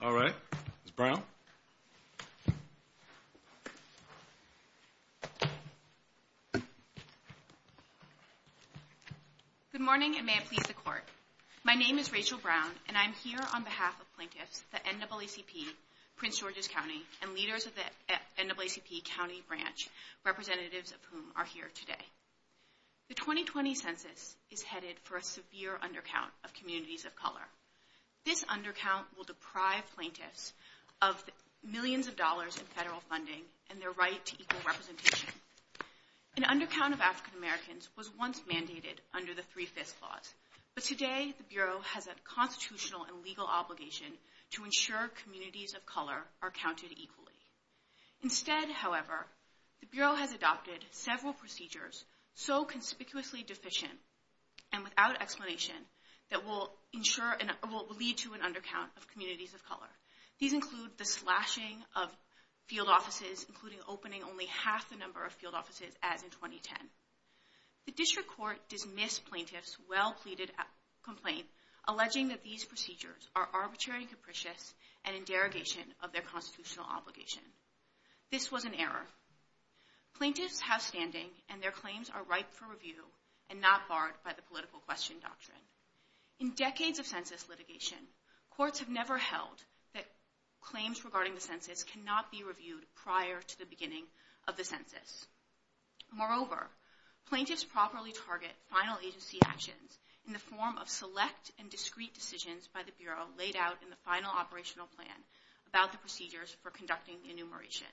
All right, Ms. Brown. Good morning, and may it please the Court. My name is Rachel Brown, and I am here on behalf of plaintiffs, the NAACP, Prince George's County, and leaders of the NAACP County Branch, representatives of whom are here today. The 2020 Census is headed for a severe undercount of communities of color. This undercount will deprive plaintiffs of millions of dollars in federal funding and their right to equal representation. An undercount of African Americans was once mandated under the Three-Fifths Clause, but today the Bureau has a constitutional and legal obligation to ensure communities of color are counted equally. Instead, however, the Bureau has adopted several procedures, so conspicuously deficient and will lead to an undercount of communities of color. These include the slashing of field offices, including opening only half the number of field offices as in 2010. The District Court dismissed plaintiffs' well-pleaded complaint, alleging that these procedures are arbitrary and capricious and in derogation of their constitutional obligation. This was an error. Plaintiffs have standing, and their claims are ripe for review and not barred by the political question doctrine. In decades of census litigation, courts have never held that claims regarding the census cannot be reviewed prior to the beginning of the census. Moreover, plaintiffs properly target final agency actions in the form of select and discrete decisions by the Bureau laid out in the final operational plan about the procedures for conducting the enumeration.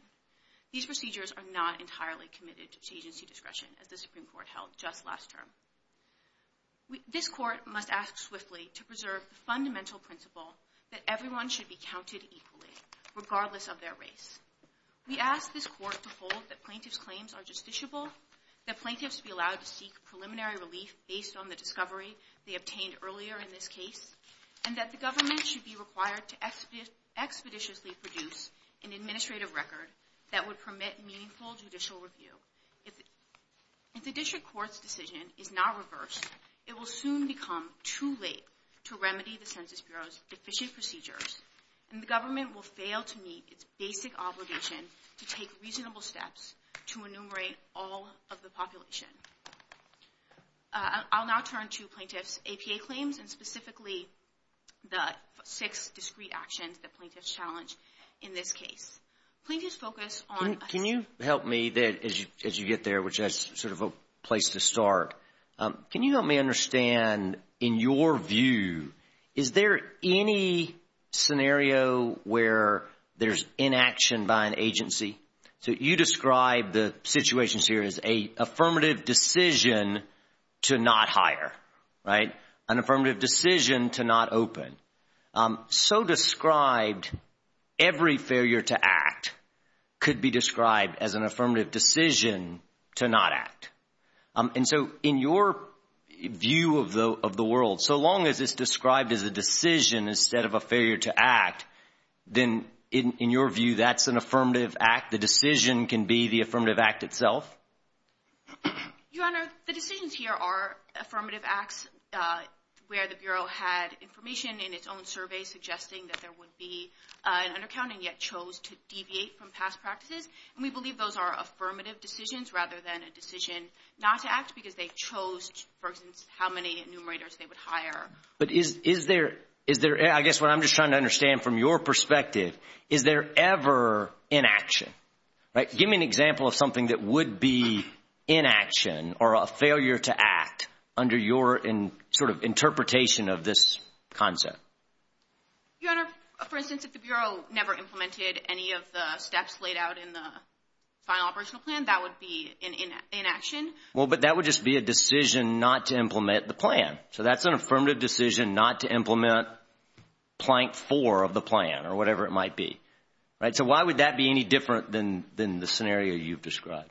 These procedures are not entirely committed to agency discretion, as the Supreme Court held just last term. This Court must ask swiftly to preserve the fundamental principle that everyone should be counted equally, regardless of their race. We ask this Court to hold that plaintiffs' claims are justiciable, that plaintiffs be allowed to seek preliminary relief based on the discovery they obtained earlier in this case, and that the government should be required to expeditiously produce an administrative record that would permit meaningful judicial review. If the district court's decision is not reversed, it will soon become too late to remedy the Census Bureau's deficient procedures, and the government will fail to meet its basic obligation to take reasonable steps to enumerate all of the population. I'll now turn to plaintiffs' APA claims, and specifically the six discrete actions that plaintiffs challenge in this case. Plaintiffs focus on... Can you help me, as you get there, which is sort of a place to start, can you help me understand in your view, is there any scenario where there's inaction by an agency? You describe the situations here as an affirmative decision to not hire, right? An affirmative decision to not open. So described, every failure to act could be described as an affirmative decision to not act. And so in your view of the world, so long as it's described as a decision instead of a failure to act, then in your view, that's an affirmative act? The decision can be the affirmative act itself? Your Honor, the decisions here are affirmative acts where the Bureau had information in its own survey suggesting that there would be an undercounting, yet chose to deviate from past practices. And we believe those are affirmative decisions rather than a decision not to act because they chose, for instance, how many enumerators they would hire. But is there, I guess what I'm just trying to understand from your perspective, is there ever inaction, right? So give me an example of something that would be inaction or a failure to act under your sort of interpretation of this concept. Your Honor, for instance, if the Bureau never implemented any of the steps laid out in the Final Operational Plan, that would be inaction? Well, but that would just be a decision not to implement the plan. So that's an affirmative decision not to implement Plank 4 of the plan or whatever it might be, right? And so why would that be any different than the scenario you've described?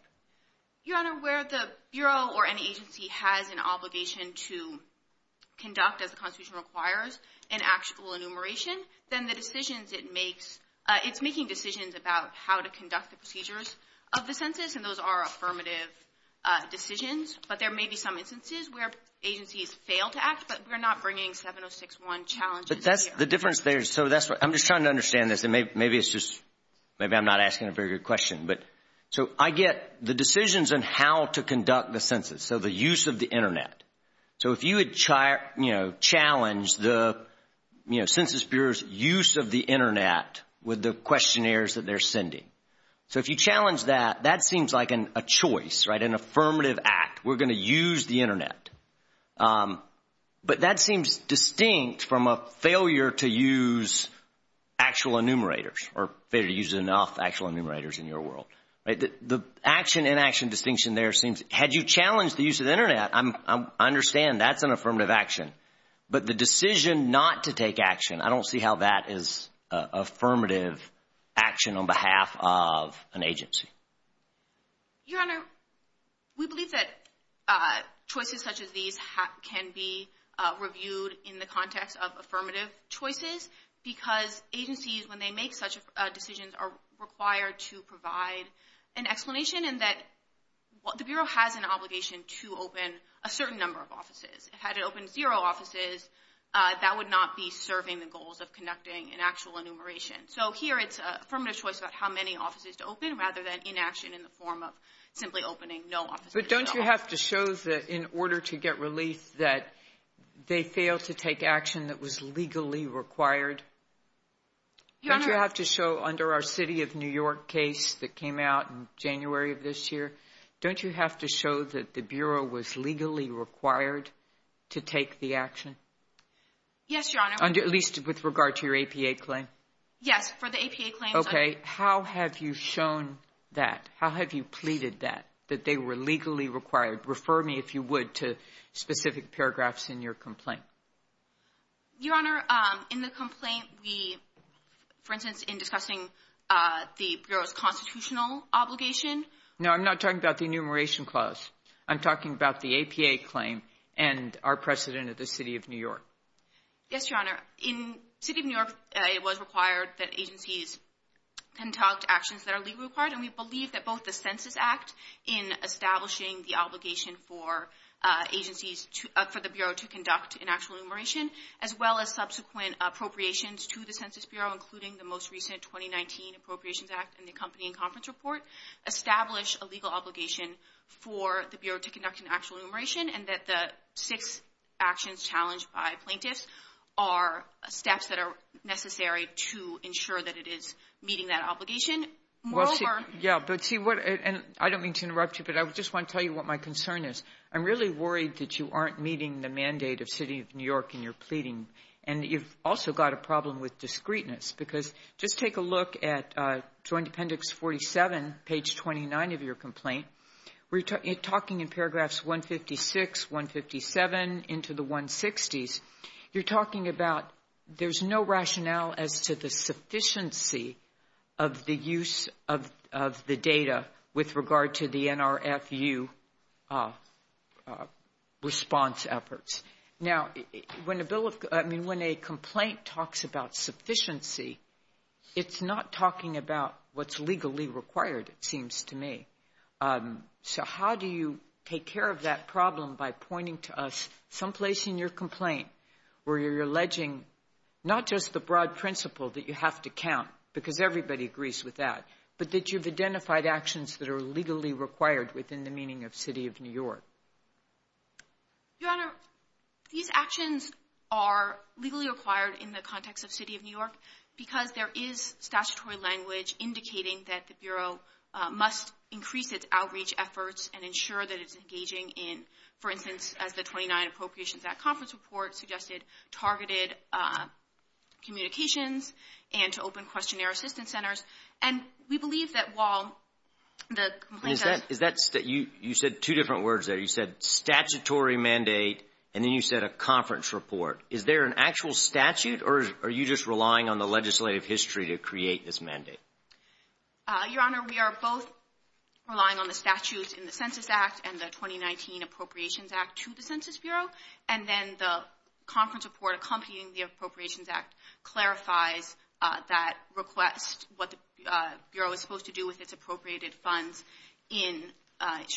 Your Honor, where the Bureau or any agency has an obligation to conduct, as the Constitution requires, an actual enumeration, then the decisions it makes, it's making decisions about how to conduct the procedures of the census, and those are affirmative decisions. But there may be some instances where agencies fail to act, but we're not bringing 706-1 challenges here. But that's the difference there. I'm just trying to understand this, and maybe I'm not asking a very good question. So I get the decisions on how to conduct the census, so the use of the Internet. So if you would challenge the Census Bureau's use of the Internet with the questionnaires that they're sending. So if you challenge that, that seems like a choice, right, an affirmative act. We're going to use the Internet. But that seems distinct from a failure to use actual enumerators, or failure to use enough actual enumerators in your world, right? The action-inaction distinction there seems, had you challenged the use of the Internet, I understand that's an affirmative action. But the decision not to take action, I don't see how that is an affirmative action on behalf of an agency. Your Honor, we believe that choices such as these can be reviewed in the context of affirmative choices because agencies, when they make such decisions, are required to provide an explanation in that the Bureau has an obligation to open a certain number of offices. Had it opened zero offices, that would not be serving the goals of conducting an actual enumeration. So here it's an affirmative choice about how many offices to open rather than inaction in the form of simply opening no offices at all. But don't you have to show that in order to get relief that they failed to take action that was legally required? Don't you have to show, under our City of New York case that came out in January of this year, don't you have to show that the Bureau was legally required to take the action? Yes, Your Honor. At least with regard to your APA claim? Yes, for the APA claim. Okay. How have you shown that? How have you pleaded that, that they were legally required? Refer me, if you would, to specific paragraphs in your complaint. Your Honor, in the complaint, we, for instance, in discussing the Bureau's constitutional obligation. No, I'm not talking about the enumeration clause. I'm talking about the APA claim and our precedent at the City of New York. Yes, Your Honor. In City of New York, it was required that agencies conduct actions that are legally required. And we believe that both the Census Act in establishing the obligation for agencies, for the Bureau to conduct an actual enumeration, as well as subsequent appropriations to the Census Bureau, including the most recent 2019 Appropriations Act and the Company and Conference Report, establish a legal obligation for the Bureau to conduct an actual enumeration. And that the six actions challenged by plaintiffs are steps that are necessary to ensure that it is meeting that obligation. Moreover... Yeah, but see what, and I don't mean to interrupt you, but I just want to tell you what my concern is. I'm really worried that you aren't meeting the mandate of City of New York in your pleading. And you've also got a problem with discreteness. Because just take a look at Joint Appendix 47, page 29 of your complaint, talking in the 156, 157, into the 160s, you're talking about there's no rationale as to the sufficiency of the use of the data with regard to the NRFU response efforts. Now, when a complaint talks about sufficiency, it's not talking about what's legally required, it seems to me. So how do you take care of that problem by pointing to someplace in your complaint where you're alleging not just the broad principle that you have to count, because everybody agrees with that, but that you've identified actions that are legally required within the meaning of City of New York? Your Honor, these actions are legally required in the context of City of New York because there is statutory language indicating that the Bureau must increase its outreach efforts and ensure that it's engaging in, for instance, as the 29 Appropriations Act Conference Report suggested, targeted communications and to open questionnaire assistance centers. And we believe that while the complaint does... Is that... You said two different words there. You said statutory mandate, and then you said a conference report. Is there an actual statute, or are you just relying on the legislative history to create this mandate? Your Honor, we are both relying on the statutes in the Census Act and the 2019 Appropriations Act to the Census Bureau. And then the conference report accompanying the Appropriations Act clarifies that request what the Bureau is supposed to do with its appropriated funds in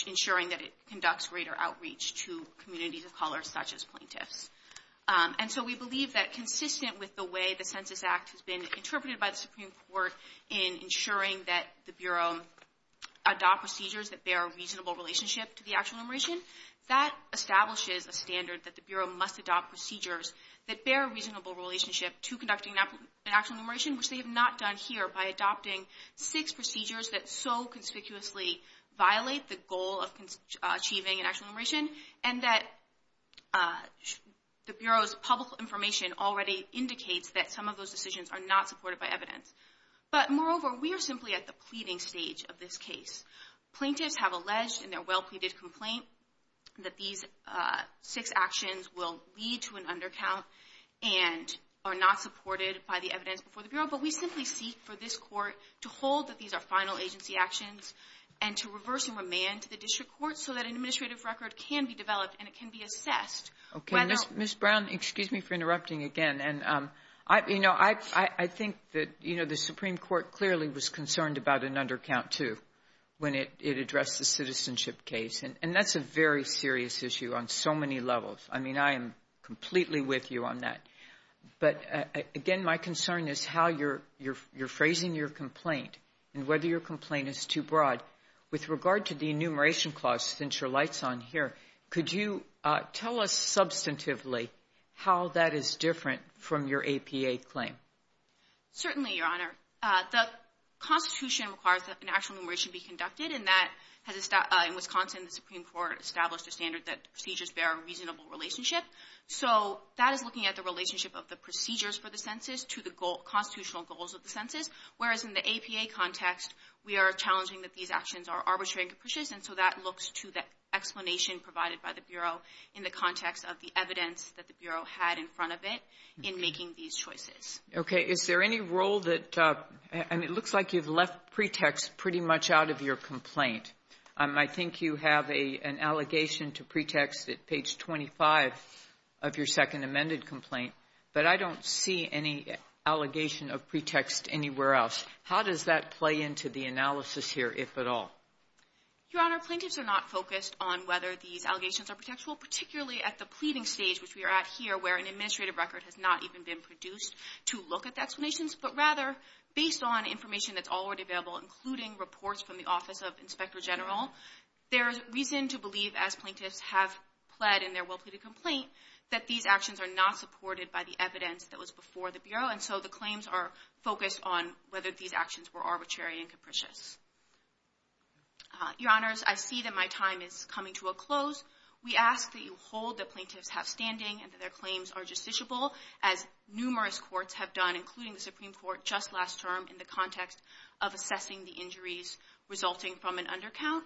ensuring that it conducts greater outreach to communities of color such as plaintiffs. And so we believe that consistent with the way the Census Act has been interpreted by the Supreme Court in ensuring that the Bureau adopt procedures that bear a reasonable relationship to the actual enumeration, that establishes a standard that the Bureau must adopt procedures that bear a reasonable relationship to conducting an actual enumeration, which they have not done here by adopting six procedures that so conspicuously violate the goal of achieving an actual enumeration, and that the Bureau's public information already indicates that some of those decisions are not supported by evidence. But moreover, we are simply at the pleading stage of this case. Plaintiffs have alleged in their well-pleaded complaint that these six actions will lead to an undercount and are not supported by the evidence before the Bureau, but we simply seek for this Court to hold that these are final agency actions and to reverse and remand them to the District Court so that an administrative record can be developed and it can be assessed. Ms. Brown, excuse me for interrupting again, and I think that the Supreme Court clearly was concerned about an undercount too when it addressed the citizenship case, and that's a very serious issue on so many levels. I mean, I am completely with you on that. But again, my concern is how you're phrasing your complaint and whether your complaint is too broad. With regard to the enumeration clause, since your light's on here, could you tell us substantively how that is different from your APA claim? Certainly, Your Honor. The Constitution requires that an actual enumeration be conducted, and that has, in Wisconsin, the Supreme Court established a standard that procedures bear a reasonable relationship. So that is looking at the relationship of the procedures for the census to the constitutional goals of the census, whereas in the APA context, we are challenging that these actions are arbitrary and capricious. And so that looks to the explanation provided by the Bureau in the context of the evidence that the Bureau had in front of it in making these choices. Okay. Is there any role that – and it looks like you've left pretext pretty much out of your complaint. I think you have an allegation to pretext at page 25 of your second amended complaint, but I don't see any allegation of pretext anywhere else. How does that play into the analysis here, if at all? Your Honor, plaintiffs are not focused on whether these allegations are pretextual, particularly at the pleading stage, which we are at here, where an administrative record has not even been produced to look at the explanations, but rather, based on information that's already available, including reports from the Office of Inspector General, there is reason to believe, as plaintiffs have pled in their well-pleaded complaint, that these actions are not supported by the evidence that was before the Bureau, and so the claims are focused on whether these actions were arbitrary and capricious. Your Honors, I see that my time is coming to a close. We ask that you hold that plaintiffs have standing and that their claims are justiciable, as numerous courts have done, including the Supreme Court, just last term in the context of assessing the injuries resulting from an undercount,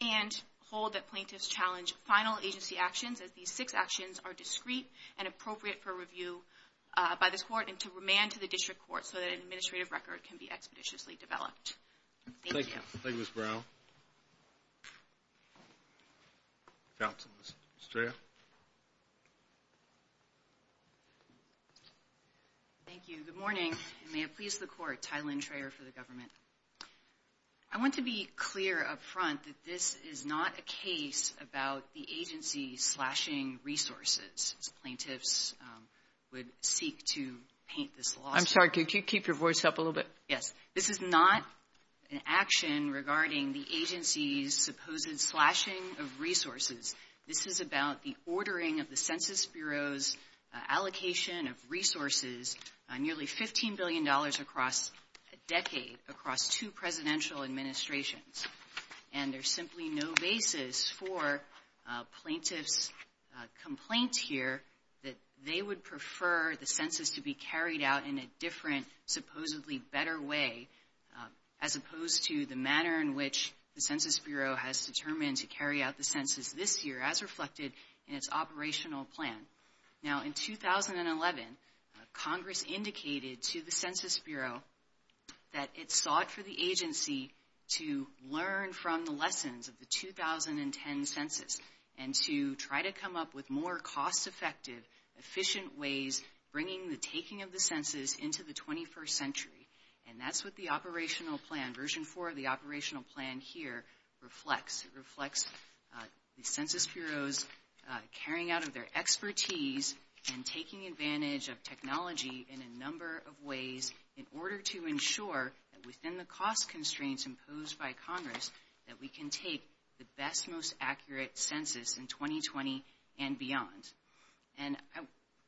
and hold that plaintiffs challenge final agency actions as these six actions are discreet and appropriate for review by this Court and to remand to the District Court so that an administrative record can be expeditiously developed. Thank you. Thank you, Ms. Brown. Counsel, Ms. Treya? Thank you. Good morning, and may it please the Court, Tylynn Treya for the Government. I want to be clear up front that this is not a case about the agency slashing resources, as plaintiffs would seek to paint this lawsuit. I'm sorry, could you keep your voice up a little bit? Yes. This is not an action regarding the agency's supposed slashing of resources. This is about the ordering of the Census Bureau's allocation of resources, nearly $15 billion across a decade, across two presidential administrations. And there's simply no basis for plaintiffs' complaint here that they would prefer the Census to be carried out in a different, supposedly better way, as opposed to the manner in which the Census Bureau has determined to carry out the Census this year, as reflected in its operational plan. Now, in 2011, Congress indicated to the Census Bureau that it sought for the agency to learn from the lessons of the 2010 Census, and to try to come up with more cost-effective, efficient ways, bringing the taking of the Census into the 21st century. And that's what the operational plan, Version 4 of the operational plan here, reflects. It reflects the Census Bureau's carrying out of their expertise and taking advantage of technology in a number of ways in order to ensure that within the cost constraints imposed by Congress, that we can take the best, most accurate Census in 2020 and beyond. And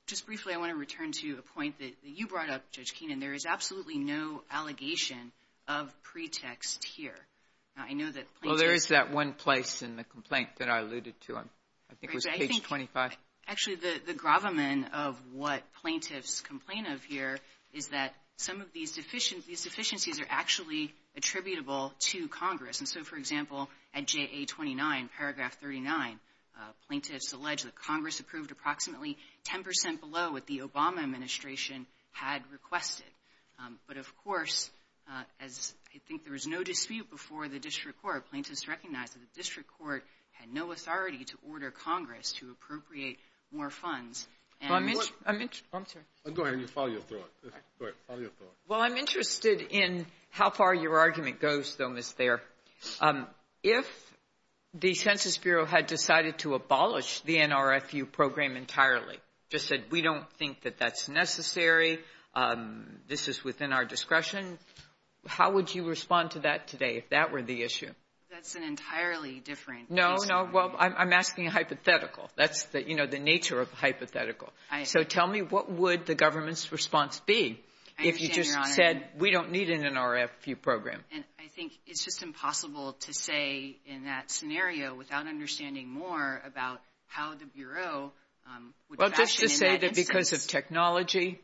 just briefly, I want to return to a point that you brought up, Judge Keenan. There is absolutely no allegation of pretext here. Well, there is that one place in the complaint that I alluded to. I think it was page 25. Actually, the gravamen of what plaintiffs complain of here is that some of these deficiencies are actually attributable to Congress. And so, for example, at JA 29, paragraph 39, plaintiffs allege that Congress approved approximately 10 percent below what the Obama administration had requested. But, of course, as I think there was no dispute before the district court, plaintiffs recognized that the district court had no authority to order Congress to appropriate more funds. And what — I'm — I'm sorry. Go ahead and follow your thought. Go ahead. Follow your thought. Well, I'm interested in how far your argument goes, though, Ms. Thayer. If the Census Bureau had decided to abolish the NRFU program entirely, just said, we don't think that that's necessary, this is within our discretion, how would you respond to that today if that were the issue? That's an entirely different — No, no. Well, I'm asking a hypothetical. That's the — you know, the nature of a hypothetical. I — So tell me, what would the government's response be if you just said — I understand, Your Honor. — we don't need an NRFU program? how the Bureau would — Well, just to say that because of technology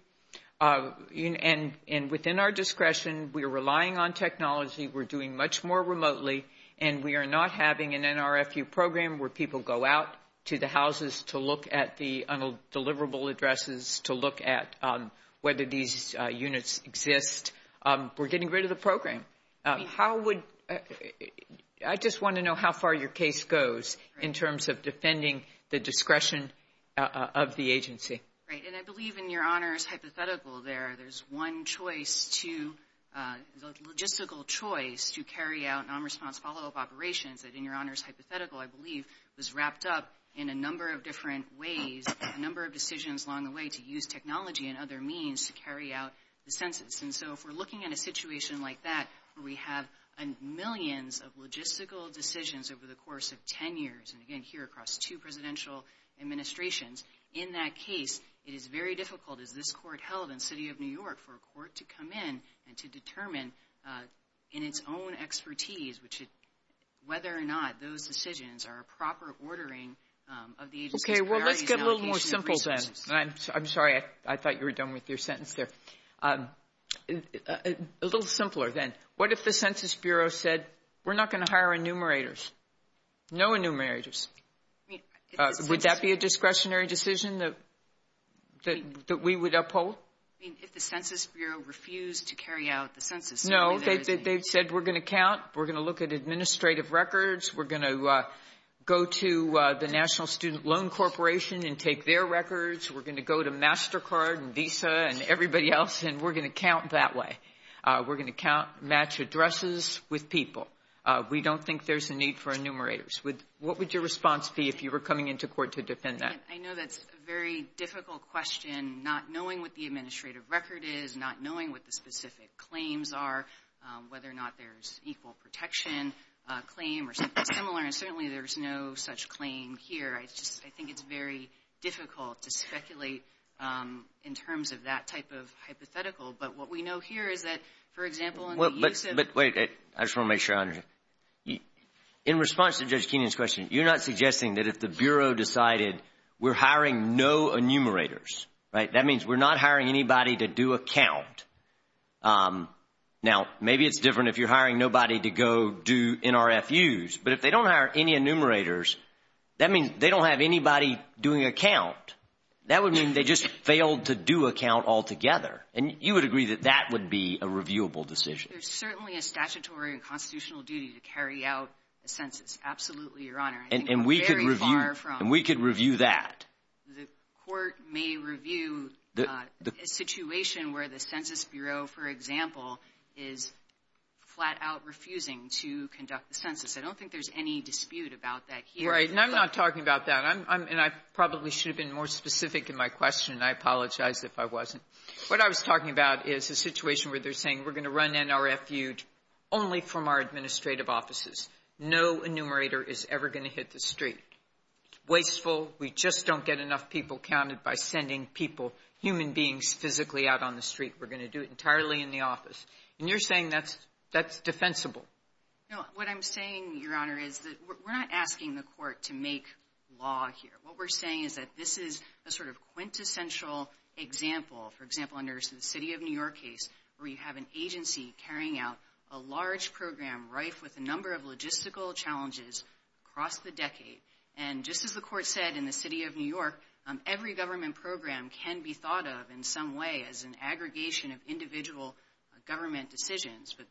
and within our discretion, we are relying on technology, we're doing much more remotely, and we are not having an NRFU program where people go out to the houses to look at the undeliverable addresses, to look at whether these units exist. We're getting rid of the program. How would — I just want to know how far your case goes in terms of defending the discretion of the agency? Right. And I believe, in your Honor's hypothetical there, there's one choice to — logistical choice to carry out non-response follow-up operations that, in your Honor's hypothetical, I believe, was wrapped up in a number of different ways, a number of decisions along the way to use technology and other means to carry out the census. And so if we're looking at a situation like that where we have millions of logistical decisions over the course of 10 years, and again here across two presidential administrations, in that case, it is very difficult, as this Court held in the City of New York, for a court to come in and to determine in its own expertise whether or not those decisions are a proper ordering of the agency's priorities and allocation of resources. Okay. Well, let's get a little more simple then. I'm sorry. I thought you were done with your sentence there. A little simpler then. What if the Census Bureau said, we're not going to hire enumerators? No enumerators. Would that be a discretionary decision that we would uphold? I mean, if the Census Bureau refused to carry out the census — No. They've said, we're going to count. We're going to look at administrative records. We're going to go to the National Student Loan Corporation and take their records. We're going to go to MasterCard and Visa and everybody else, and we're going to count that way. We're going to match addresses with people. We don't think there's a need for enumerators. What would your response be if you were coming into court to defend that? I know that's a very difficult question, not knowing what the administrative record is, not knowing what the specific claims are, whether or not there's equal protection claim or something similar, and certainly there's no such claim here. I think it's very difficult to speculate in terms of that type of hypothetical. But what we know here is that, for example, in the use of — But wait. I just want to make sure I understand. In response to Judge Keenan's question, you're not suggesting that if the Bureau decided, we're hiring no enumerators, right? That means we're not hiring anybody to do a count. Now, maybe it's different if you're hiring nobody to go do NRFUs. But if they don't hire any enumerators, that means they don't have anybody doing a count. That would mean they just failed to do a count altogether. And you would agree that that would be a reviewable decision. There's certainly a statutory and constitutional duty to carry out a census. Absolutely, Your Honor. And we could review that. The court may review a situation where the Census Bureau, for example, is flat-out refusing to conduct the census. I don't think there's any dispute about that here. Right. And I'm not talking about that. And I probably should have been more specific in my question. I apologize if I wasn't. What I was talking about is a situation where they're saying, we're going to run NRFU only from our administrative offices. No enumerator is ever going to hit the street. Wasteful. We just don't get enough people counted by sending people, human beings, physically out on the street. We're going to do it entirely in the office. And you're saying that's defensible. No, what I'm saying, Your Honor, is that we're not asking the court to make law here. What we're saying is that this is a sort of quintessential example, for example, under the City of New York case, where you have an agency carrying out a large program rife with a number of logistical challenges across the decade. And just as the court said in the City of New York, every government program can be thought of in some way as an aggregation of individual government decisions. But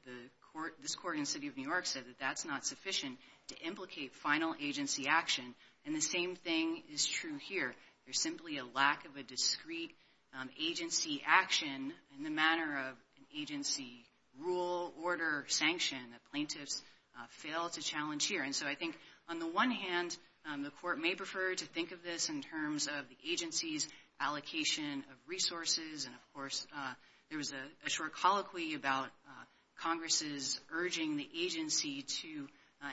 this court in the City of New York said that that's not sufficient to implicate final agency action. And the same thing is true here. There's simply a lack of a discrete agency action in the manner of an agency rule, order, or sanction that plaintiffs fail to challenge here. And so I think, on the one hand, the court may prefer to think of this in terms of the agency's allocation of resources. And, of course, there was a short colloquy about Congress's urging the agency to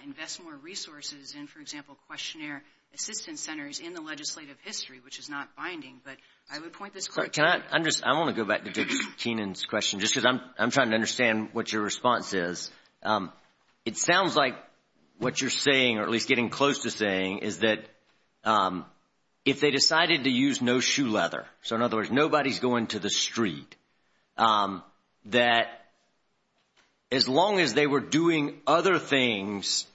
invest more resources in, for example, questionnaire assistance centers in the legislative history, which is not binding. But I would point this to the court. I want to go back to Dick Keenan's question, just because I'm trying to understand what your response is. It sounds like what you're saying, or at least getting close to saying, is that if they decided to use no-shoe leather, so in other words nobody's going to the street, that as long as they were doing other things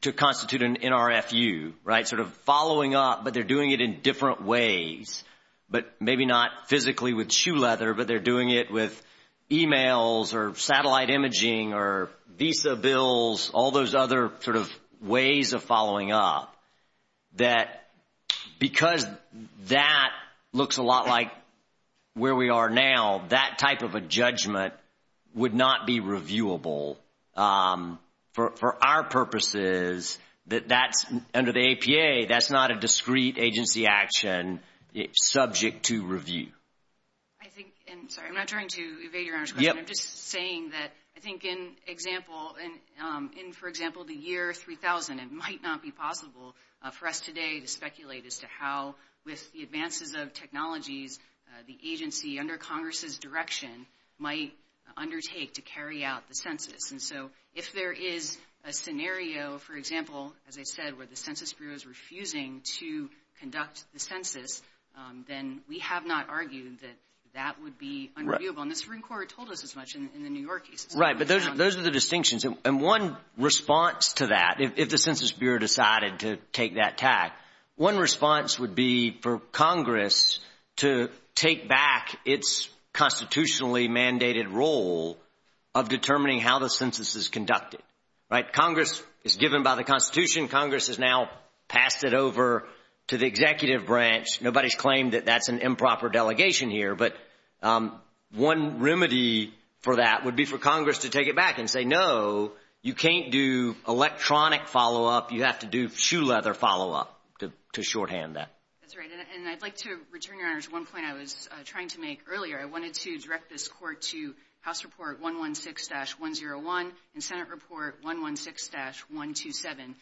to constitute an NRFU, right, sort of following up, but they're doing it in different ways, but maybe not physically with shoe leather, but they're doing it with emails or satellite imaging or visa bills, all those other sort of ways of following up, that because that looks a lot like where we are now, that type of a judgment would not be reviewable. For our purposes, under the APA, that's not a discrete agency action subject to review. Sorry, I'm not trying to evade your question. I'm just saying that I think in, for example, the year 3000, it might not be possible for us today to speculate as to how, with the advances of technologies, the agency under Congress's direction might undertake to carry out the census. And so if there is a scenario, for example, as I said, where the Census Bureau is refusing to conduct the census, then we have not argued that that would be reviewable. And the Supreme Court told us as much in the New York case. Right, but those are the distinctions. And one response to that, if the Census Bureau decided to take that tack, one response would be for Congress to take back its constitutionally mandated role of determining how the census is conducted. Congress is given by the Constitution. Congress has now passed it over to the executive branch. Nobody's claimed that that's an improper delegation here. But one remedy for that would be for Congress to take it back and say, no, you can't do electronic follow-up. You have to do shoe leather follow-up to shorthand that. That's right. And I'd like to return, Your Honors, to one point I was trying to make earlier. I wanted to direct this Court to House Report 116-101 and Senate Report 116-127.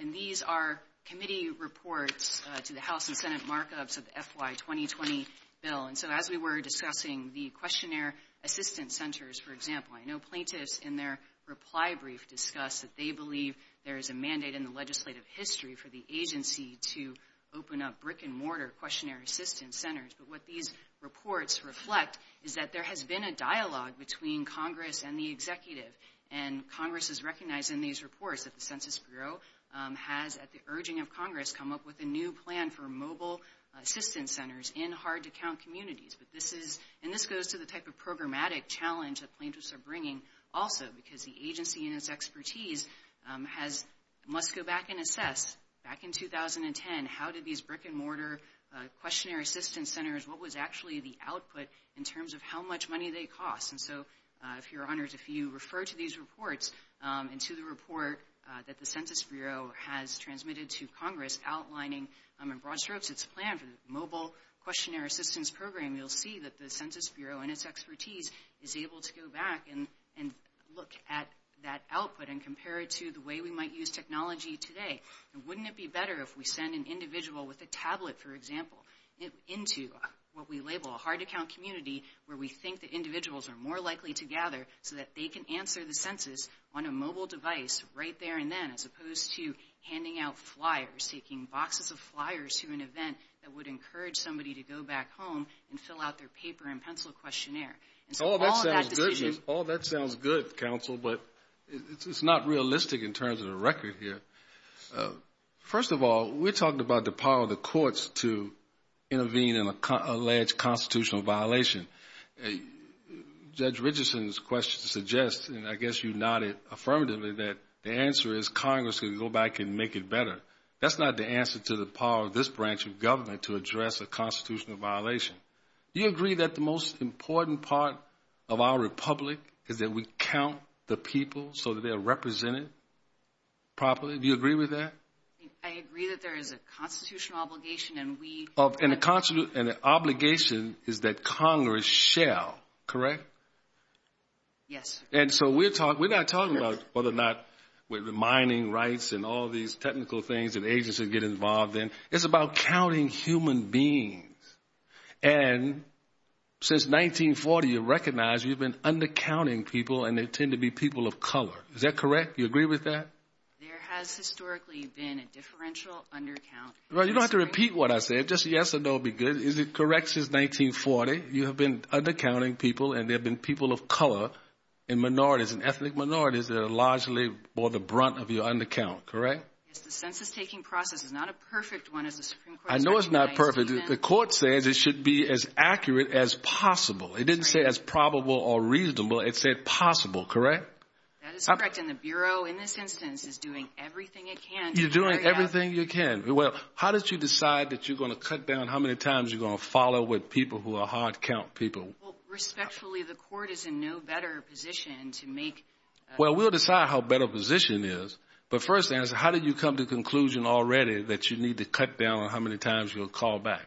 And these are committee reports to the House and Senate markups of the FY 2020 bill. And so as we were discussing the questionnaire assistance centers, for example, I know plaintiffs in their reply brief discussed that they believe there is a mandate in the legislative history for the agency to open up brick-and-mortar questionnaire assistance centers. But what these reports reflect is that there has been a dialogue between Congress and the executive. And Congress is recognizing these reports that the Census Bureau has, at the urging of Congress, come up with a new plan for mobile assistance centers in hard-to-count communities. And this goes to the type of programmatic challenge that plaintiffs are bringing also because the agency in its expertise must go back and assess, back in 2010, how did these brick-and-mortar questionnaire assistance centers, what was actually the output in terms of how much money they cost. And so, Your Honors, if you refer to these reports and to the report that the Census Bureau has transmitted to Congress outlining, in broad strokes, its plan for the mobile questionnaire assistance program, you'll see that the Census Bureau, in its expertise, is able to go back and look at that output and compare it to the way we might use technology today. And wouldn't it be better if we send an individual with a tablet, for example, into what we label a hard-to-count community, where we think the individuals are more likely to gather so that they can answer the census on a mobile device right there and then as opposed to handing out flyers, taking boxes of flyers to an event that would encourage somebody to go back home and fill out their paper and pencil questionnaire. And so all of that decision— All that sounds good, Counsel, but it's not realistic in terms of the record here. First of all, we're talking about the power of the courts to intervene in an alleged constitutional violation. Judge Richardson's question suggests, and I guess you nodded affirmatively, that the answer is Congress can go back and make it better. That's not the answer to the power of this branch of government to address a constitutional violation. Do you agree that the most important part of our republic is that we count the people so that they are represented properly? Do you agree with that? I agree that there is a constitutional obligation and we— And the obligation is that Congress shall, correct? Yes. And so we're not talking about whether or not the mining rights and all these technical things that agencies get involved in. It's about counting human beings. And since 1940, you recognize you've been undercounting people and they tend to be people of color. Is that correct? Do you agree with that? There has historically been a differential undercount. Well, you don't have to repeat what I said. Just yes or no would be good. Is it correct since 1940 you have been undercounting people and there have been people of color and minorities and ethnic minorities that are largely on the brunt of your undercount, correct? Yes. The census-taking process is not a perfect one as the Supreme Court— I know it's not perfect. The court says it should be as accurate as possible. It didn't say as probable or reasonable. It said possible, correct? That is correct. And the Bureau, in this instance, is doing everything it can to carry out— You're doing everything you can. Well, how did you decide that you're going to cut down how many times you're going to follow with people who are hard-count people? Well, respectfully, the court is in no better position to make— Well, we'll decide how better position is, but first answer, how did you come to the conclusion already that you need to cut down on how many times you'll call back?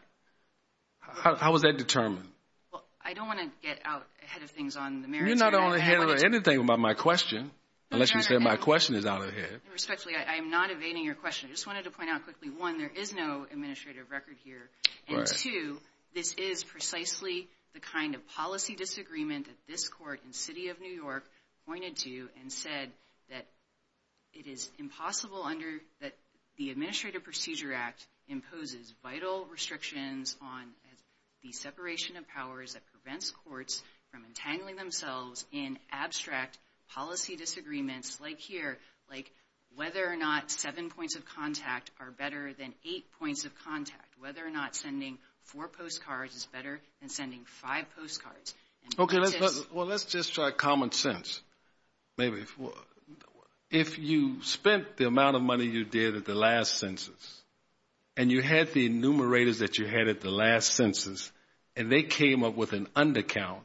How was that determined? Well, I don't want to get out ahead of things on the merits— You're not ahead of anything about my question, unless you say my question is out ahead. Respectfully, I am not evading your question. I just wanted to point out quickly, one, there is no administrative record here, and two, this is precisely the kind of policy disagreement that this court in the City of New York pointed to and said that it is impossible under— that the Administrative Procedure Act imposes vital restrictions on the separation of powers that prevents courts from entangling themselves in abstract policy disagreements like here, like whether or not seven points of contact are better than eight points of contact, whether or not sending four postcards is better than sending five postcards. Well, let's just try common sense. If you spent the amount of money you did at the last census and you had the enumerators that you had at the last census and they came up with an undercount,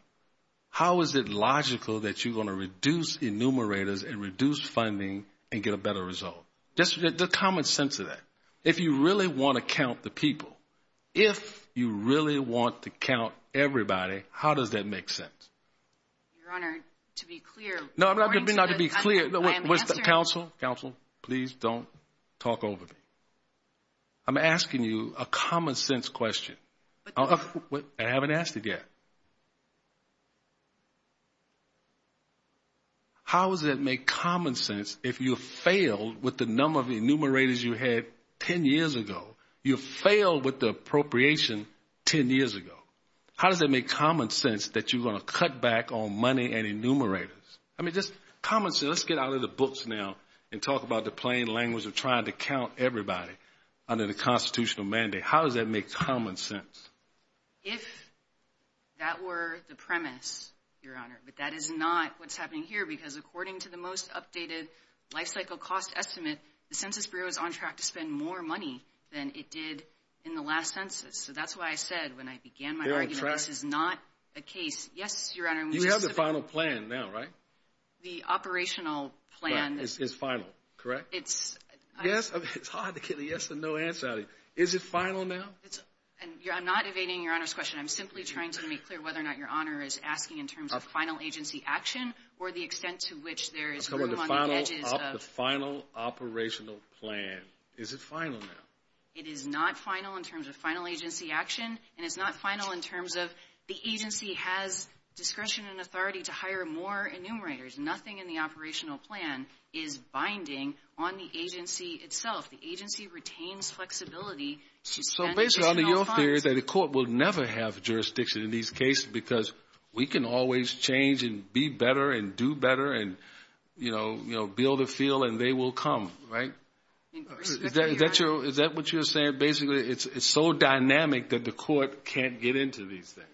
how is it logical that you're going to reduce enumerators and reduce funding and get a better result? Just the common sense of that. If you really want to count the people, if you really want to count everybody, how does that make sense? Your Honor, to be clear— No, not to be clear. Counsel, counsel, please don't talk over me. I'm asking you a common sense question. I haven't asked it yet. How does that make common sense if you failed with the number of enumerators you had 10 years ago? You failed with the appropriation 10 years ago. How does that make common sense that you're going to cut back on money and enumerators? I mean, just common sense. Let's get out of the books now and talk about the plain language of trying to count everybody under the constitutional mandate. How does that make common sense? If that were the premise, Your Honor, but that is not what's happening here because according to the most updated lifecycle cost estimate, the Census Bureau is on track to spend more money than it did in the last census. So that's why I said when I began my argument, this is not a case. Yes, Your Honor— You have the final plan now, right? The operational plan— Is final, correct? It's hard to get a yes or no answer out of you. Is it final now? I'm not evading Your Honor's question. I'm simply trying to make clear whether or not Your Honor is asking in terms of final agency action or the extent to which there is room on the edges of— I'm talking about the final operational plan. Is it final now? It is not final in terms of final agency action, and it's not final in terms of the agency has discretion and authority to hire more enumerators. Nothing in the operational plan is binding on the agency itself. The agency retains flexibility to spend— So basically, under your theory, that the court will never have jurisdiction in these cases because we can always change and be better and do better and build a field and they will come, right? Is that what you're saying? Basically, it's so dynamic that the court can't get into these things.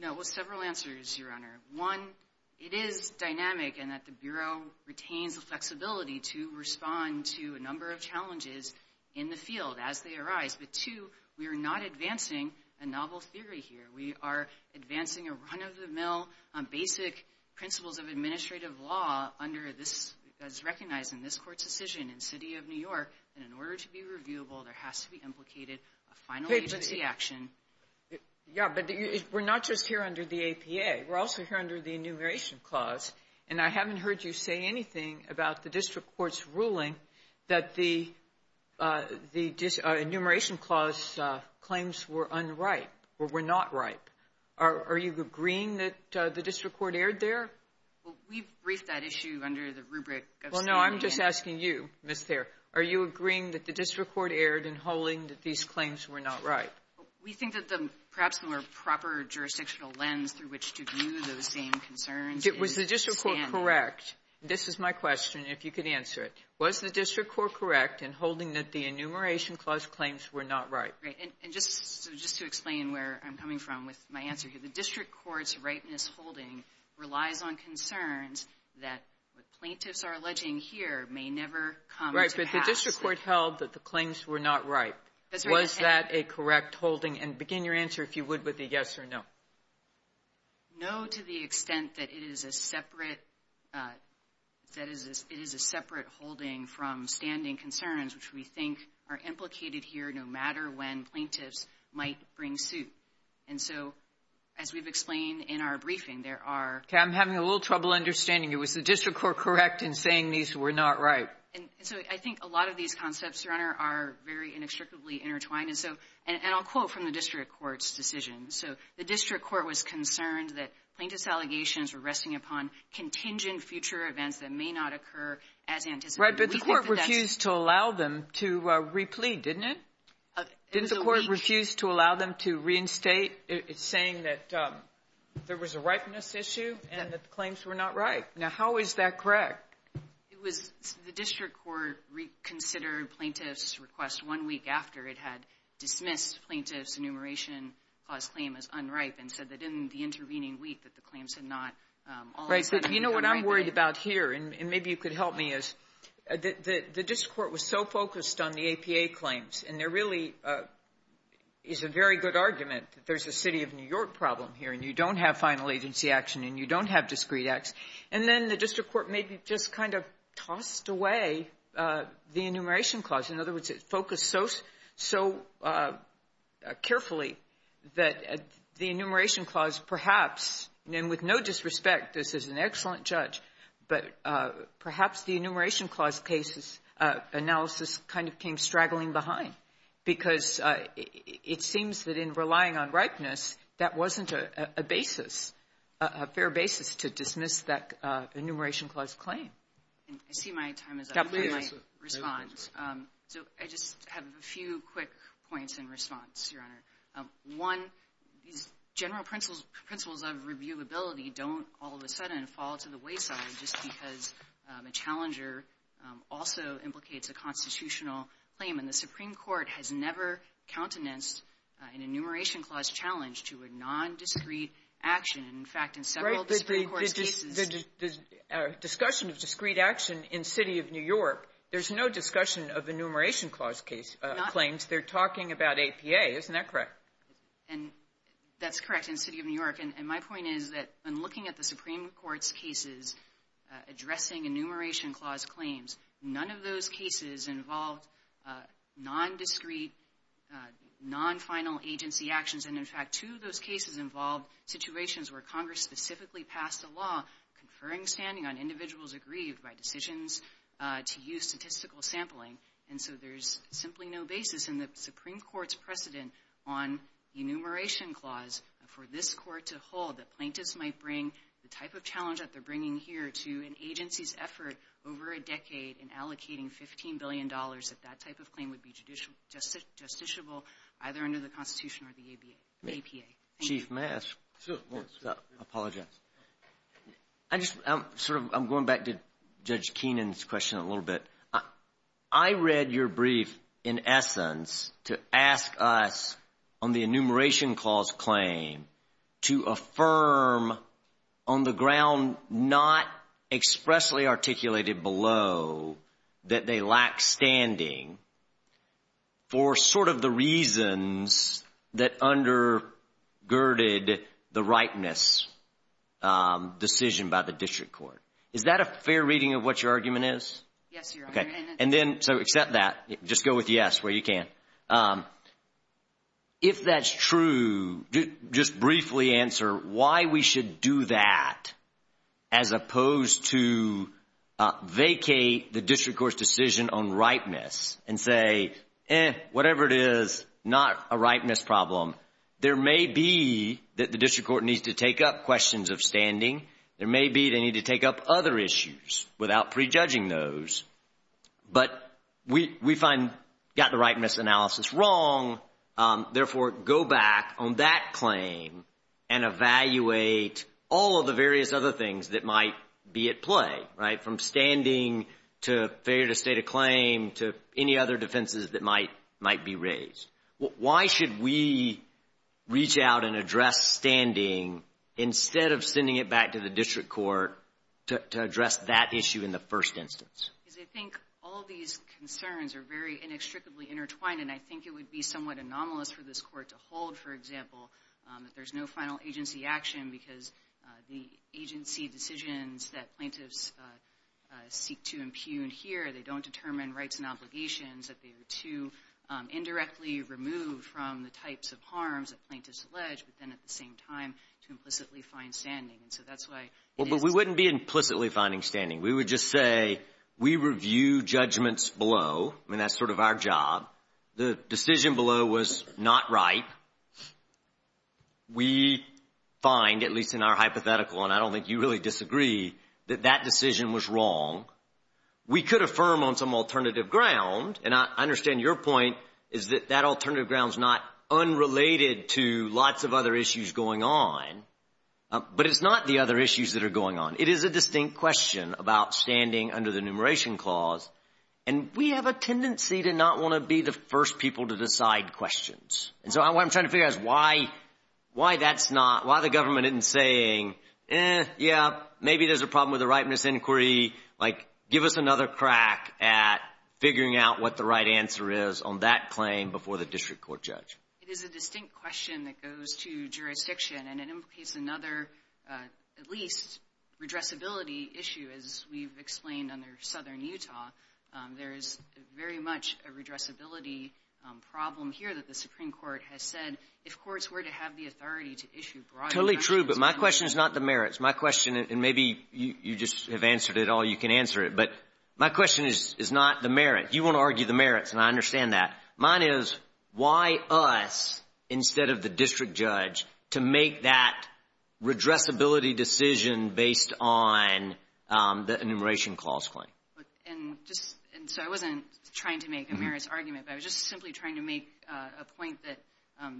No, well, several answers, Your Honor. One, it is dynamic in that the Bureau retains the flexibility to respond to a number of challenges in the field as they arise. But two, we are not advancing a novel theory here. We are advancing a run-of-the-mill basic principles of administrative law as recognized in this Court's decision in the City of New York that in order to be reviewable, there has to be implicated a final agency action. Yeah, but we're not just here under the APA. We're also here under the enumeration clause, and I haven't heard you say anything about the district court's ruling that the enumeration clause claims were unripe or were not ripe. Are you agreeing that the district court erred there? Well, we've briefed that issue under the rubric. Well, no, I'm just asking you, Ms. Thayer. Are you agreeing that the district court erred in holding that these claims were not ripe? We think that perhaps in a more proper jurisdictional lens through which to view those same concerns. Was the district court correct? This is my question, if you could answer it. Was the district court correct in holding that the enumeration clause claims were not ripe? And just to explain where I'm coming from with my answer here, the district court's ripeness holding relies on concerns that what plaintiffs are alleging here may never come to pass. Right, but the district court held that the claims were not ripe. Was that a correct holding? And begin your answer, if you would, with a yes or no. No, to the extent that it is a separate holding from standing concerns, which we think are implicated here no matter when plaintiffs might bring suit. And so, as we've explained in our briefing, there are — Okay, I'm having a little trouble understanding you. Was the district court correct in saying these were not ripe? And so I think a lot of these concepts, Your Honor, are very inextricably intertwined. And so — and I'll quote from the district court's decision. So, the district court was concerned that plaintiffs' allegations were resting upon contingent future events that may not occur as anticipated. Right, but the court refused to allow them to replete, didn't it? Didn't the court refuse to allow them to reinstate, saying that there was a ripeness issue and that the claims were not ripe? Now, how is that correct? It was — the district court reconsidered plaintiffs' request one week after it had dismissed plaintiffs' enumeration clause claim as unripe and said that in the intervening week that the claims had not all of a sudden become ripe. Right, so you know what I'm worried about here, and maybe you could help me, is that the district court was so focused on the APA claims, and there really is a very good argument that there's a City of New York problem here, and you don't have final agency action, and you don't have discrete acts. And then the district court maybe just kind of tossed away the enumeration clause. In other words, it focused so carefully that the enumeration clause perhaps, and with no disrespect, this is an excellent judge, but perhaps the enumeration clause case analysis kind of came straggling behind because it seems that in relying on ripeness, that wasn't a basis, a fair basis to dismiss that enumeration clause claim. I see my time is up for my response. So I just have a few quick points in response, Your Honor. One, these general principles of reviewability don't all of a sudden fall to the wayside just because a challenger also implicates a constitutional claim, and the Supreme Court has never countenanced an enumeration clause challenge to a nondiscrete action. In fact, in several Supreme Court cases... There's no discussion of enumeration clause claims. They're talking about APA. Isn't that correct? And that's correct, in the city of New York. And my point is that in looking at the Supreme Court's cases addressing enumeration clause claims, none of those cases involved nondiscrete, nonfinal agency actions. And, in fact, two of those cases involved situations where Congress specifically passed a law conferring standing on individuals aggrieved by decisions to use statistical sampling. And so there's simply no basis in the Supreme Court's precedent on enumeration clause for this Court to hold that plaintiffs might bring the type of challenge that they're bringing here to an agency's effort over a decade in allocating $15 billion that that type of claim would be justiciable either under the Constitution or the APA. Chief, may I ask... I'm going back to Judge Keenan's question a little bit. I read your brief, in essence, to ask us on the enumeration clause claim to affirm on the ground not expressly articulated below that they lack standing for sort of the reasons that undergirded the rightness decision by the district court. Is that a fair reading of what your argument is? Yes, Your Honor. Okay, and then, so accept that. Just go with yes where you can. If that's true, just briefly answer why we should do that as opposed to vacate the district court's decision on rightness and say, eh, whatever it is, not a rightness problem. There may be that the district court needs to take up questions of standing. There may be they need to take up other issues without prejudging those. But we find got the rightness analysis wrong. Therefore, go back on that claim and evaluate all of the various other things that might be at play, right, from standing to failure to state a claim to any other defenses that might be raised. Why should we reach out and address standing instead of sending it back to the district court to address that issue in the first instance? Because I think all of these concerns are very inextricably intertwined, and I think it would be somewhat anomalous for this court to hold, for example, that there's no final agency action because the agency decisions that plaintiffs seek to impugn here, they don't determine rights and obligations, that they are too indirectly removed from the types of harms that plaintiffs allege, but then at the same time to implicitly find standing. And so that's why it is... Well, but we wouldn't be implicitly finding standing. We would just say we review judgments below. I mean, that's sort of our job. The decision below was not right. We find, at least in our hypothetical, and I don't think you really disagree, that that decision was wrong. We could affirm on some alternative ground, and I understand your point, is that that alternative ground's not unrelated to lots of other issues going on, but it's not the other issues that are going on. It is a distinct question about standing under the enumeration clause, and we have a tendency to not want to be the first people to decide questions. And so what I'm trying to figure out is why that's not... Why the government isn't saying, eh, yeah, maybe there's a problem with the rightness inquiry. Like, give us another crack at figuring out what the right answer is on that claim before the district court judge. It is a distinct question that goes to jurisdiction, and it implicates another, at least, redressability issue, as we've explained under Southern Utah. There is very much a redressability problem here that the Supreme Court has said, if courts were to have the authority to issue... Totally true, but my question is not the merits. My question, and maybe you just have answered it all, you can answer it, but my question is not the merit. You want to argue the merits, and I understand that. Mine is, why us, instead of the district judge, to make that redressability decision based on the enumeration clause claim? And so I wasn't trying to make a merits argument, but I was just simply trying to make a point that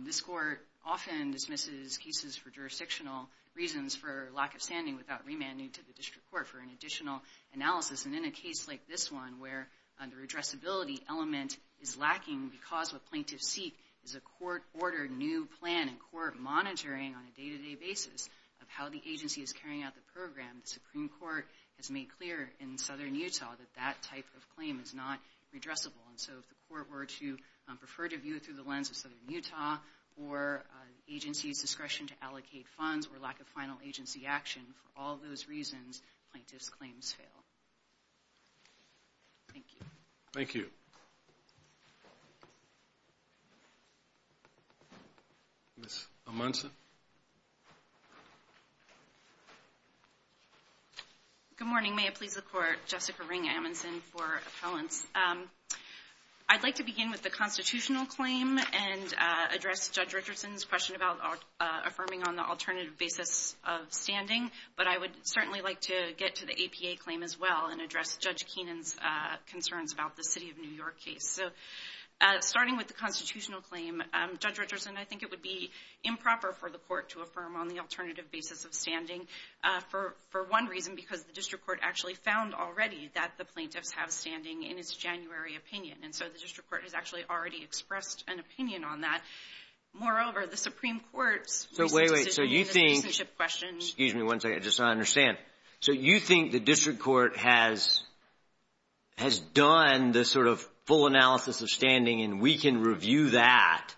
this Court often dismisses cases for jurisdictional reasons for lack of standing without remanding to the district court for an additional analysis. And in a case like this one, where the redressability element is lacking because what plaintiffs seek is a court-ordered new plan and court monitoring on a day-to-day basis of how the agency is carrying out the program, the Supreme Court has made clear in Southern Utah that that type of claim is not redressable. And so if the court were to prefer to view it through the lens of Southern Utah or agency's discretion to allocate funds or lack of final agency action, for all those reasons, plaintiffs' claims fail. Thank you. Thank you. Ms. Amonson. Good morning. May it please the Court. Jessica Ring-Amonson for Appellants. I'd like to begin with the constitutional claim and address Judge Richardson's question about affirming on the alternative basis of standing, but I would certainly like to get to the APA claim as well and address Judge Keenan's concerns about the City of New York case. So starting with the constitutional claim, Judge Richardson, I think it would be improper for the court to affirm on the alternative basis of standing for one reason, because the district court actually found already that the plaintiffs have standing in its January opinion. And so the district court has actually already expressed an opinion on that. Moreover, the Supreme Court's recent decision on the citizenship question. Excuse me one second. I just don't understand. So you think the district court has done the sort of full analysis of standing and we can review that,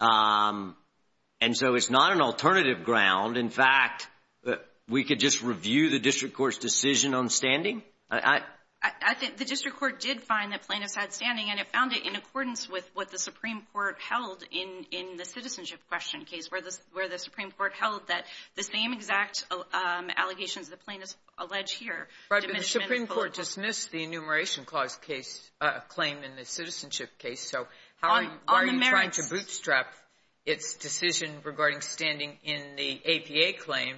and so it's not an alternative ground. In fact, we could just review the district court's decision on standing? I think the district court did find that plaintiffs had standing and it found it in accordance with what the Supreme Court held in the citizenship question case, where the Supreme Court held that the same exact allegations the plaintiffs allege here. But the Supreme Court dismissed the enumeration clause claim in the citizenship case, so why are you trying to bootstrap its decision regarding standing in the APA claim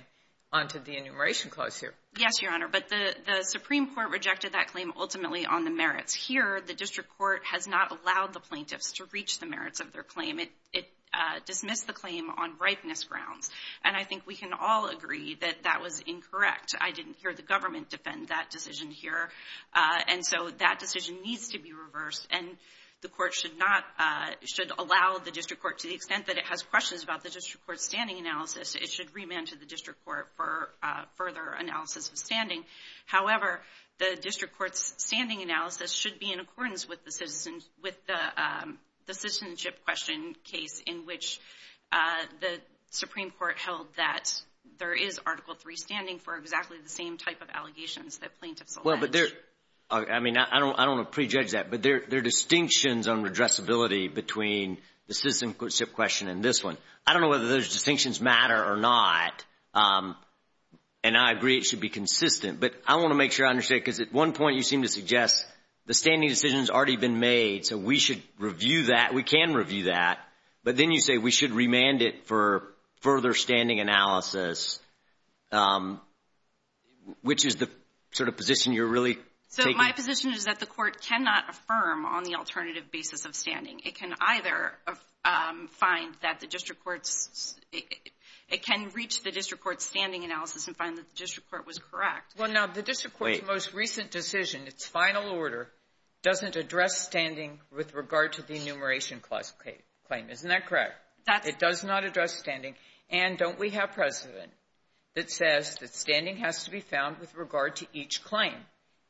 onto the enumeration clause here? Yes, Your Honor, but the Supreme Court rejected that claim ultimately on the merits. Here, the district court has not allowed the plaintiffs to reach the merits of their claim. It dismissed the claim on ripeness grounds, and I think we can all agree that that was incorrect. I didn't hear the government defend that decision here, and so that decision needs to be reversed, and the court should allow the district court, to the extent that it has questions about the district court's standing analysis, it should remand to the district court for further analysis of standing. However, the district court's standing analysis should be in accordance with the citizenship question case in which the Supreme Court held that there is Article III standing for exactly the same type of allegations that plaintiffs allege. I don't want to prejudge that, but there are distinctions on redressability between the citizenship question and this one. I don't know whether those distinctions matter or not, and I agree it should be consistent, but I want to make sure I understand, because at one point you seem to suggest the standing decision has already been made, so we should review that, we can review that, but then you say we should remand it for further standing analysis, which is the sort of position you're really taking? So my position is that the court cannot affirm on the alternative basis of standing. It can either find that the district court's, it can reach the district court's standing analysis and find that the district court was correct. Well, now, the district court's most recent decision, its final order, doesn't address standing with regard to the enumeration claim. Isn't that correct? It does not address standing, and don't we have precedent that says that standing has to be found with regard to each claim?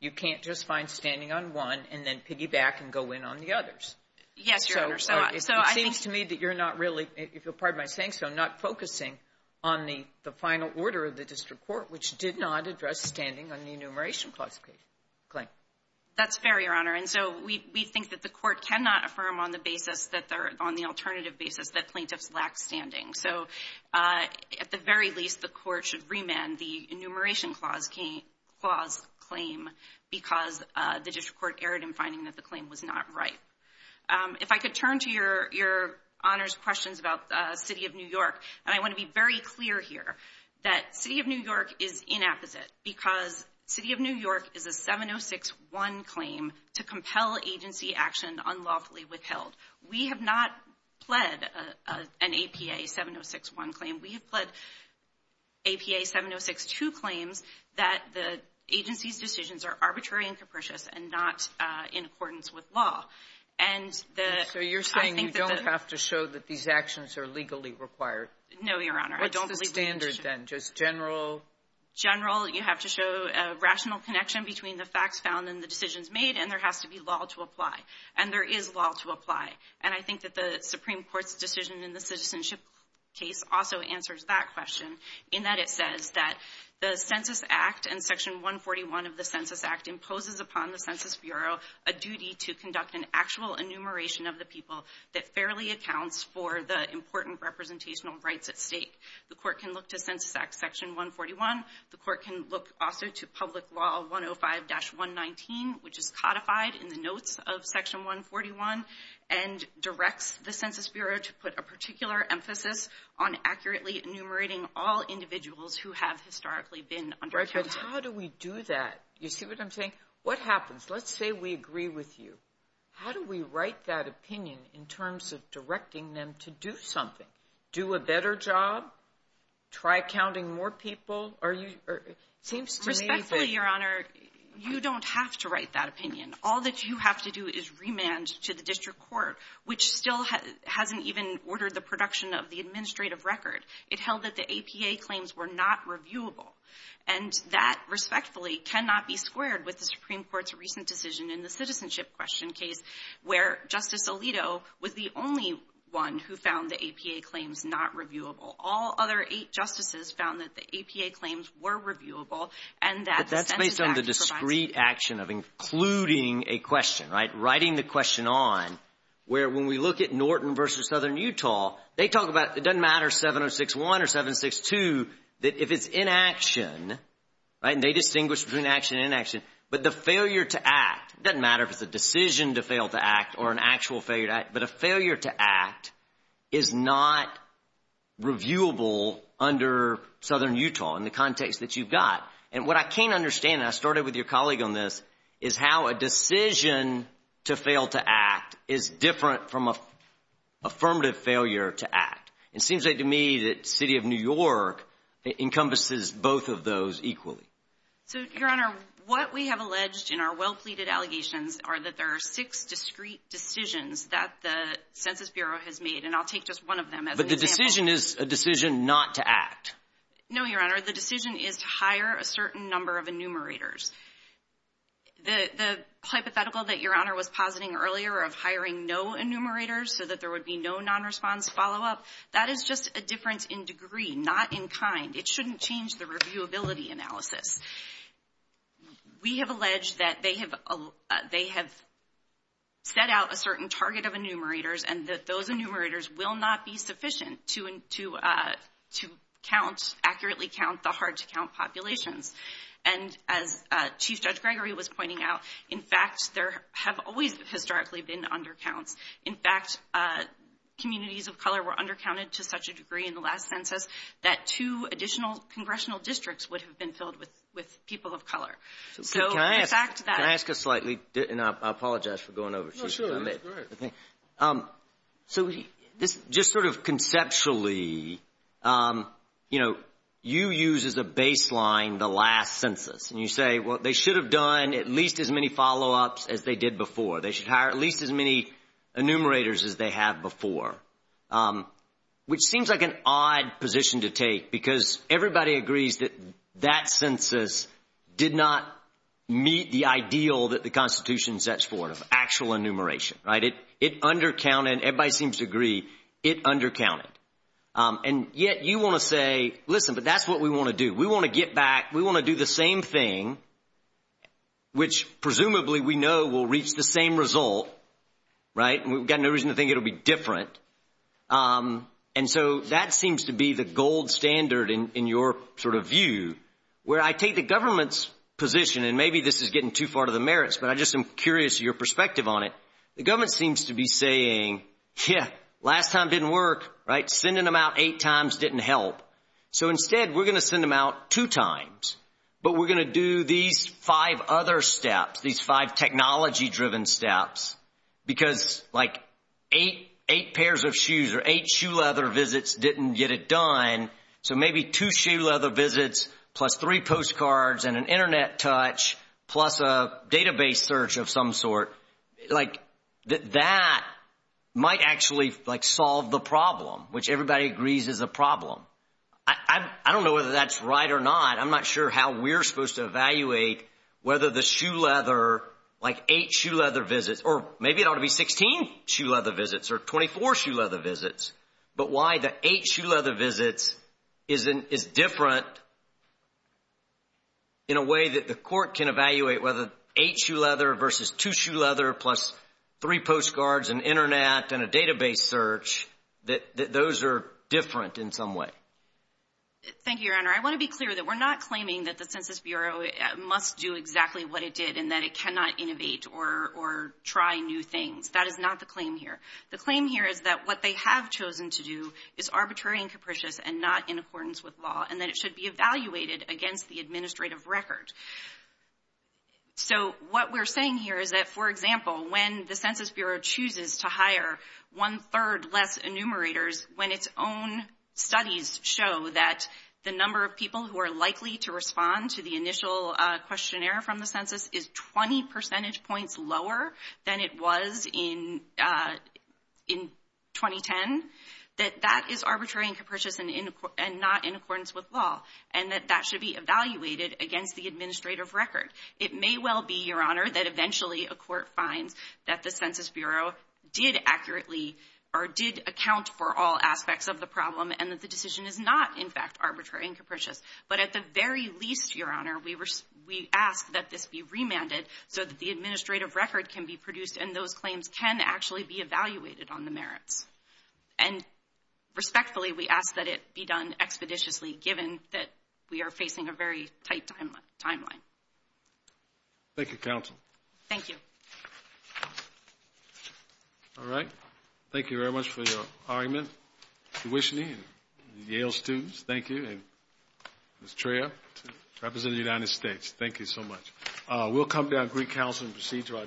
You can't just find standing on one and then piggyback and go in on the others. Yes, Your Honor, so I think... It seems to me that you're not really, if you'll pardon my saying so, not focusing on the final order of the district court, which did not address standing on the enumeration clause claim. That's fair, Your Honor, and so we think that the court cannot affirm on the alternative basis that plaintiffs lack standing. So at the very least, the court should remand the enumeration clause claim because the district court erred in finding that the claim was not right. If I could turn to Your Honor's questions about the City of New York, and I want to be very clear here that City of New York is inapposite because City of New York is a 706-1 claim to compel agency action unlawfully withheld. We have not pled an APA 706-1 claim. We have pled APA 706-2 claims that the agency's decisions are arbitrary and capricious and not in accordance with law. And the... So you're saying you don't have to show that these actions are legally required? No, Your Honor. What's the standard then? Just general... General, you have to show a rational connection between the facts found and the decisions made, and there has to be law to apply. And there is law to apply. And I think that the Supreme Court's decision in the citizenship case also answers that question in that it says that the Census Act and Section 141 of the Census Act imposes upon the Census Bureau a duty to conduct an actual enumeration of the people that fairly accounts for the important representational rights at stake. The court can look to Census Act Section 141. The court can look also to Public Law 105-119, which is codified in the notes of Section 141 and directs the Census Bureau to put a particular emphasis on accurately enumerating all individuals who have historically been under... Right, but how do we do that? You see what I'm saying? What happens? Let's say we agree with you. How do we write that opinion in terms of directing them to do something? Do a better job? Try counting more people? It seems to me that... Respectfully, Your Honor, you don't have to write that opinion. All that you have to do is remand to the district court, which still hasn't even ordered the production of the administrative record. It held that the APA claims were not reviewable. And that, respectfully, cannot be squared with the Supreme Court's recent decision in the citizenship question case where Justice Alito was the only one who found the APA claims not reviewable. All other eight justices found that the APA claims were reviewable and that the Census Act provides... But that's based on the discrete action of including a question, right? Writing the question on, where when we look at Norton v. Southern Utah, they talk about it doesn't matter 706-1 or 706-2, that if it's inaction, right, and they distinguish between action and inaction, but the failure to act, it doesn't matter if it's a decision to fail to act or an actual failure to act, but a failure to act is not reviewable under Southern Utah in the context that you've got. And what I can't understand, and I started with your colleague on this, is how a decision to fail to act is different from an affirmative failure to act. It seems to me that the city of New York encompasses both of those equally. So, Your Honor, what we have alleged in our well-pleaded allegations are that there are six discrete decisions that the Census Bureau has made, and I'll take just one of them as an example. But the decision is a decision not to act. No, Your Honor. The decision is to hire a certain number of enumerators. The hypothetical that Your Honor was positing earlier of hiring no enumerators so that there would be no nonresponse follow-up, that is just a difference in degree, not in kind. It shouldn't change the reviewability analysis. We have alleged that they have set out a certain target of enumerators, and that those enumerators will not be sufficient to accurately count the hard-to-count populations. And as Chief Judge Gregory was pointing out, in fact, there have always historically been undercounts. In fact, communities of color were undercounted to such a degree in the last census that two additional congressional districts would have been filled with people of color. So, in fact, that... Can I ask a slightly... And I apologize for going over, Chief. No, sure. That's great. So, just sort of conceptually, you know, you use as a baseline the last census, and you say, well, they should have done at least as many follow-ups as they did before. They should hire at least as many enumerators as they have before, which seems like an odd position to take because everybody agrees that that census did not meet the ideal that the Constitution sets for it, of actual enumeration, right? It undercounted. Everybody seems to agree it undercounted. And yet you want to say, listen, but that's what we want to do. We want to get back. We want to do the same thing, which presumably we know will reach the same result, right? And we've got no reason to think it'll be different. And so that seems to be the gold standard in your sort of view, where I take the government's position, and maybe this is getting too far to the merits, but I just am curious of your perspective on it. The government seems to be saying, yeah, last time didn't work, right? Sending them out eight times didn't help. So instead, we're going to send them out two times, but we're going to do these five other steps, these five technology-driven steps, because like eight pairs of shoes or eight shoe leather visits didn't get it done. So maybe two shoe leather visits plus three postcards and an internet touch plus a database search of some sort, like that might actually solve the problem, which everybody agrees is a problem. I don't know whether that's right or not. I'm not sure how we're supposed to evaluate whether the shoe leather, like eight shoe leather visits or maybe it ought to be 16 shoe leather visits or 24 shoe leather visits, but why the eight shoe leather visits is different in a way that the court can evaluate whether eight shoe leather versus two shoe leather plus three postcards and internet and a database search, that those are different in some way. Thank you, Your Honor. I want to be clear that we're not claiming that the Census Bureau must do exactly what it did and that it cannot innovate or try new things. That is not the claim here. The claim here is that what they have chosen to do is arbitrary and capricious and not in accordance with law and that it should be evaluated against the administrative record. So what we're saying here is that, for example, when the Census Bureau chooses to hire one-third less enumerators when its own studies show that the number of people who are likely to respond to the initial questionnaire from the Census is 20 percentage points lower than it was in 2010, that that is arbitrary and capricious and not in accordance with law and that that should be evaluated against the administrative record. It may well be, Your Honor, that eventually a court finds that the Census Bureau did accurately or did account for all aspects of the problem and that the decision is not, in fact, arbitrary and capricious. But at the very least, Your Honor, we ask that this be remanded so that the administrative record can be produced and those claims can actually be evaluated on the merits. And respectfully, we ask that it be done expeditiously given that we are facing a very tight timeline. Thank you, Counsel. Thank you. All right. Thank you very much for your argument. Thank you, Mr. Whishney and Yale students. Thank you. And Ms. Trejo, Representative of the United States, thank you so much. We'll come to our Greek counsel and proceed to our next case.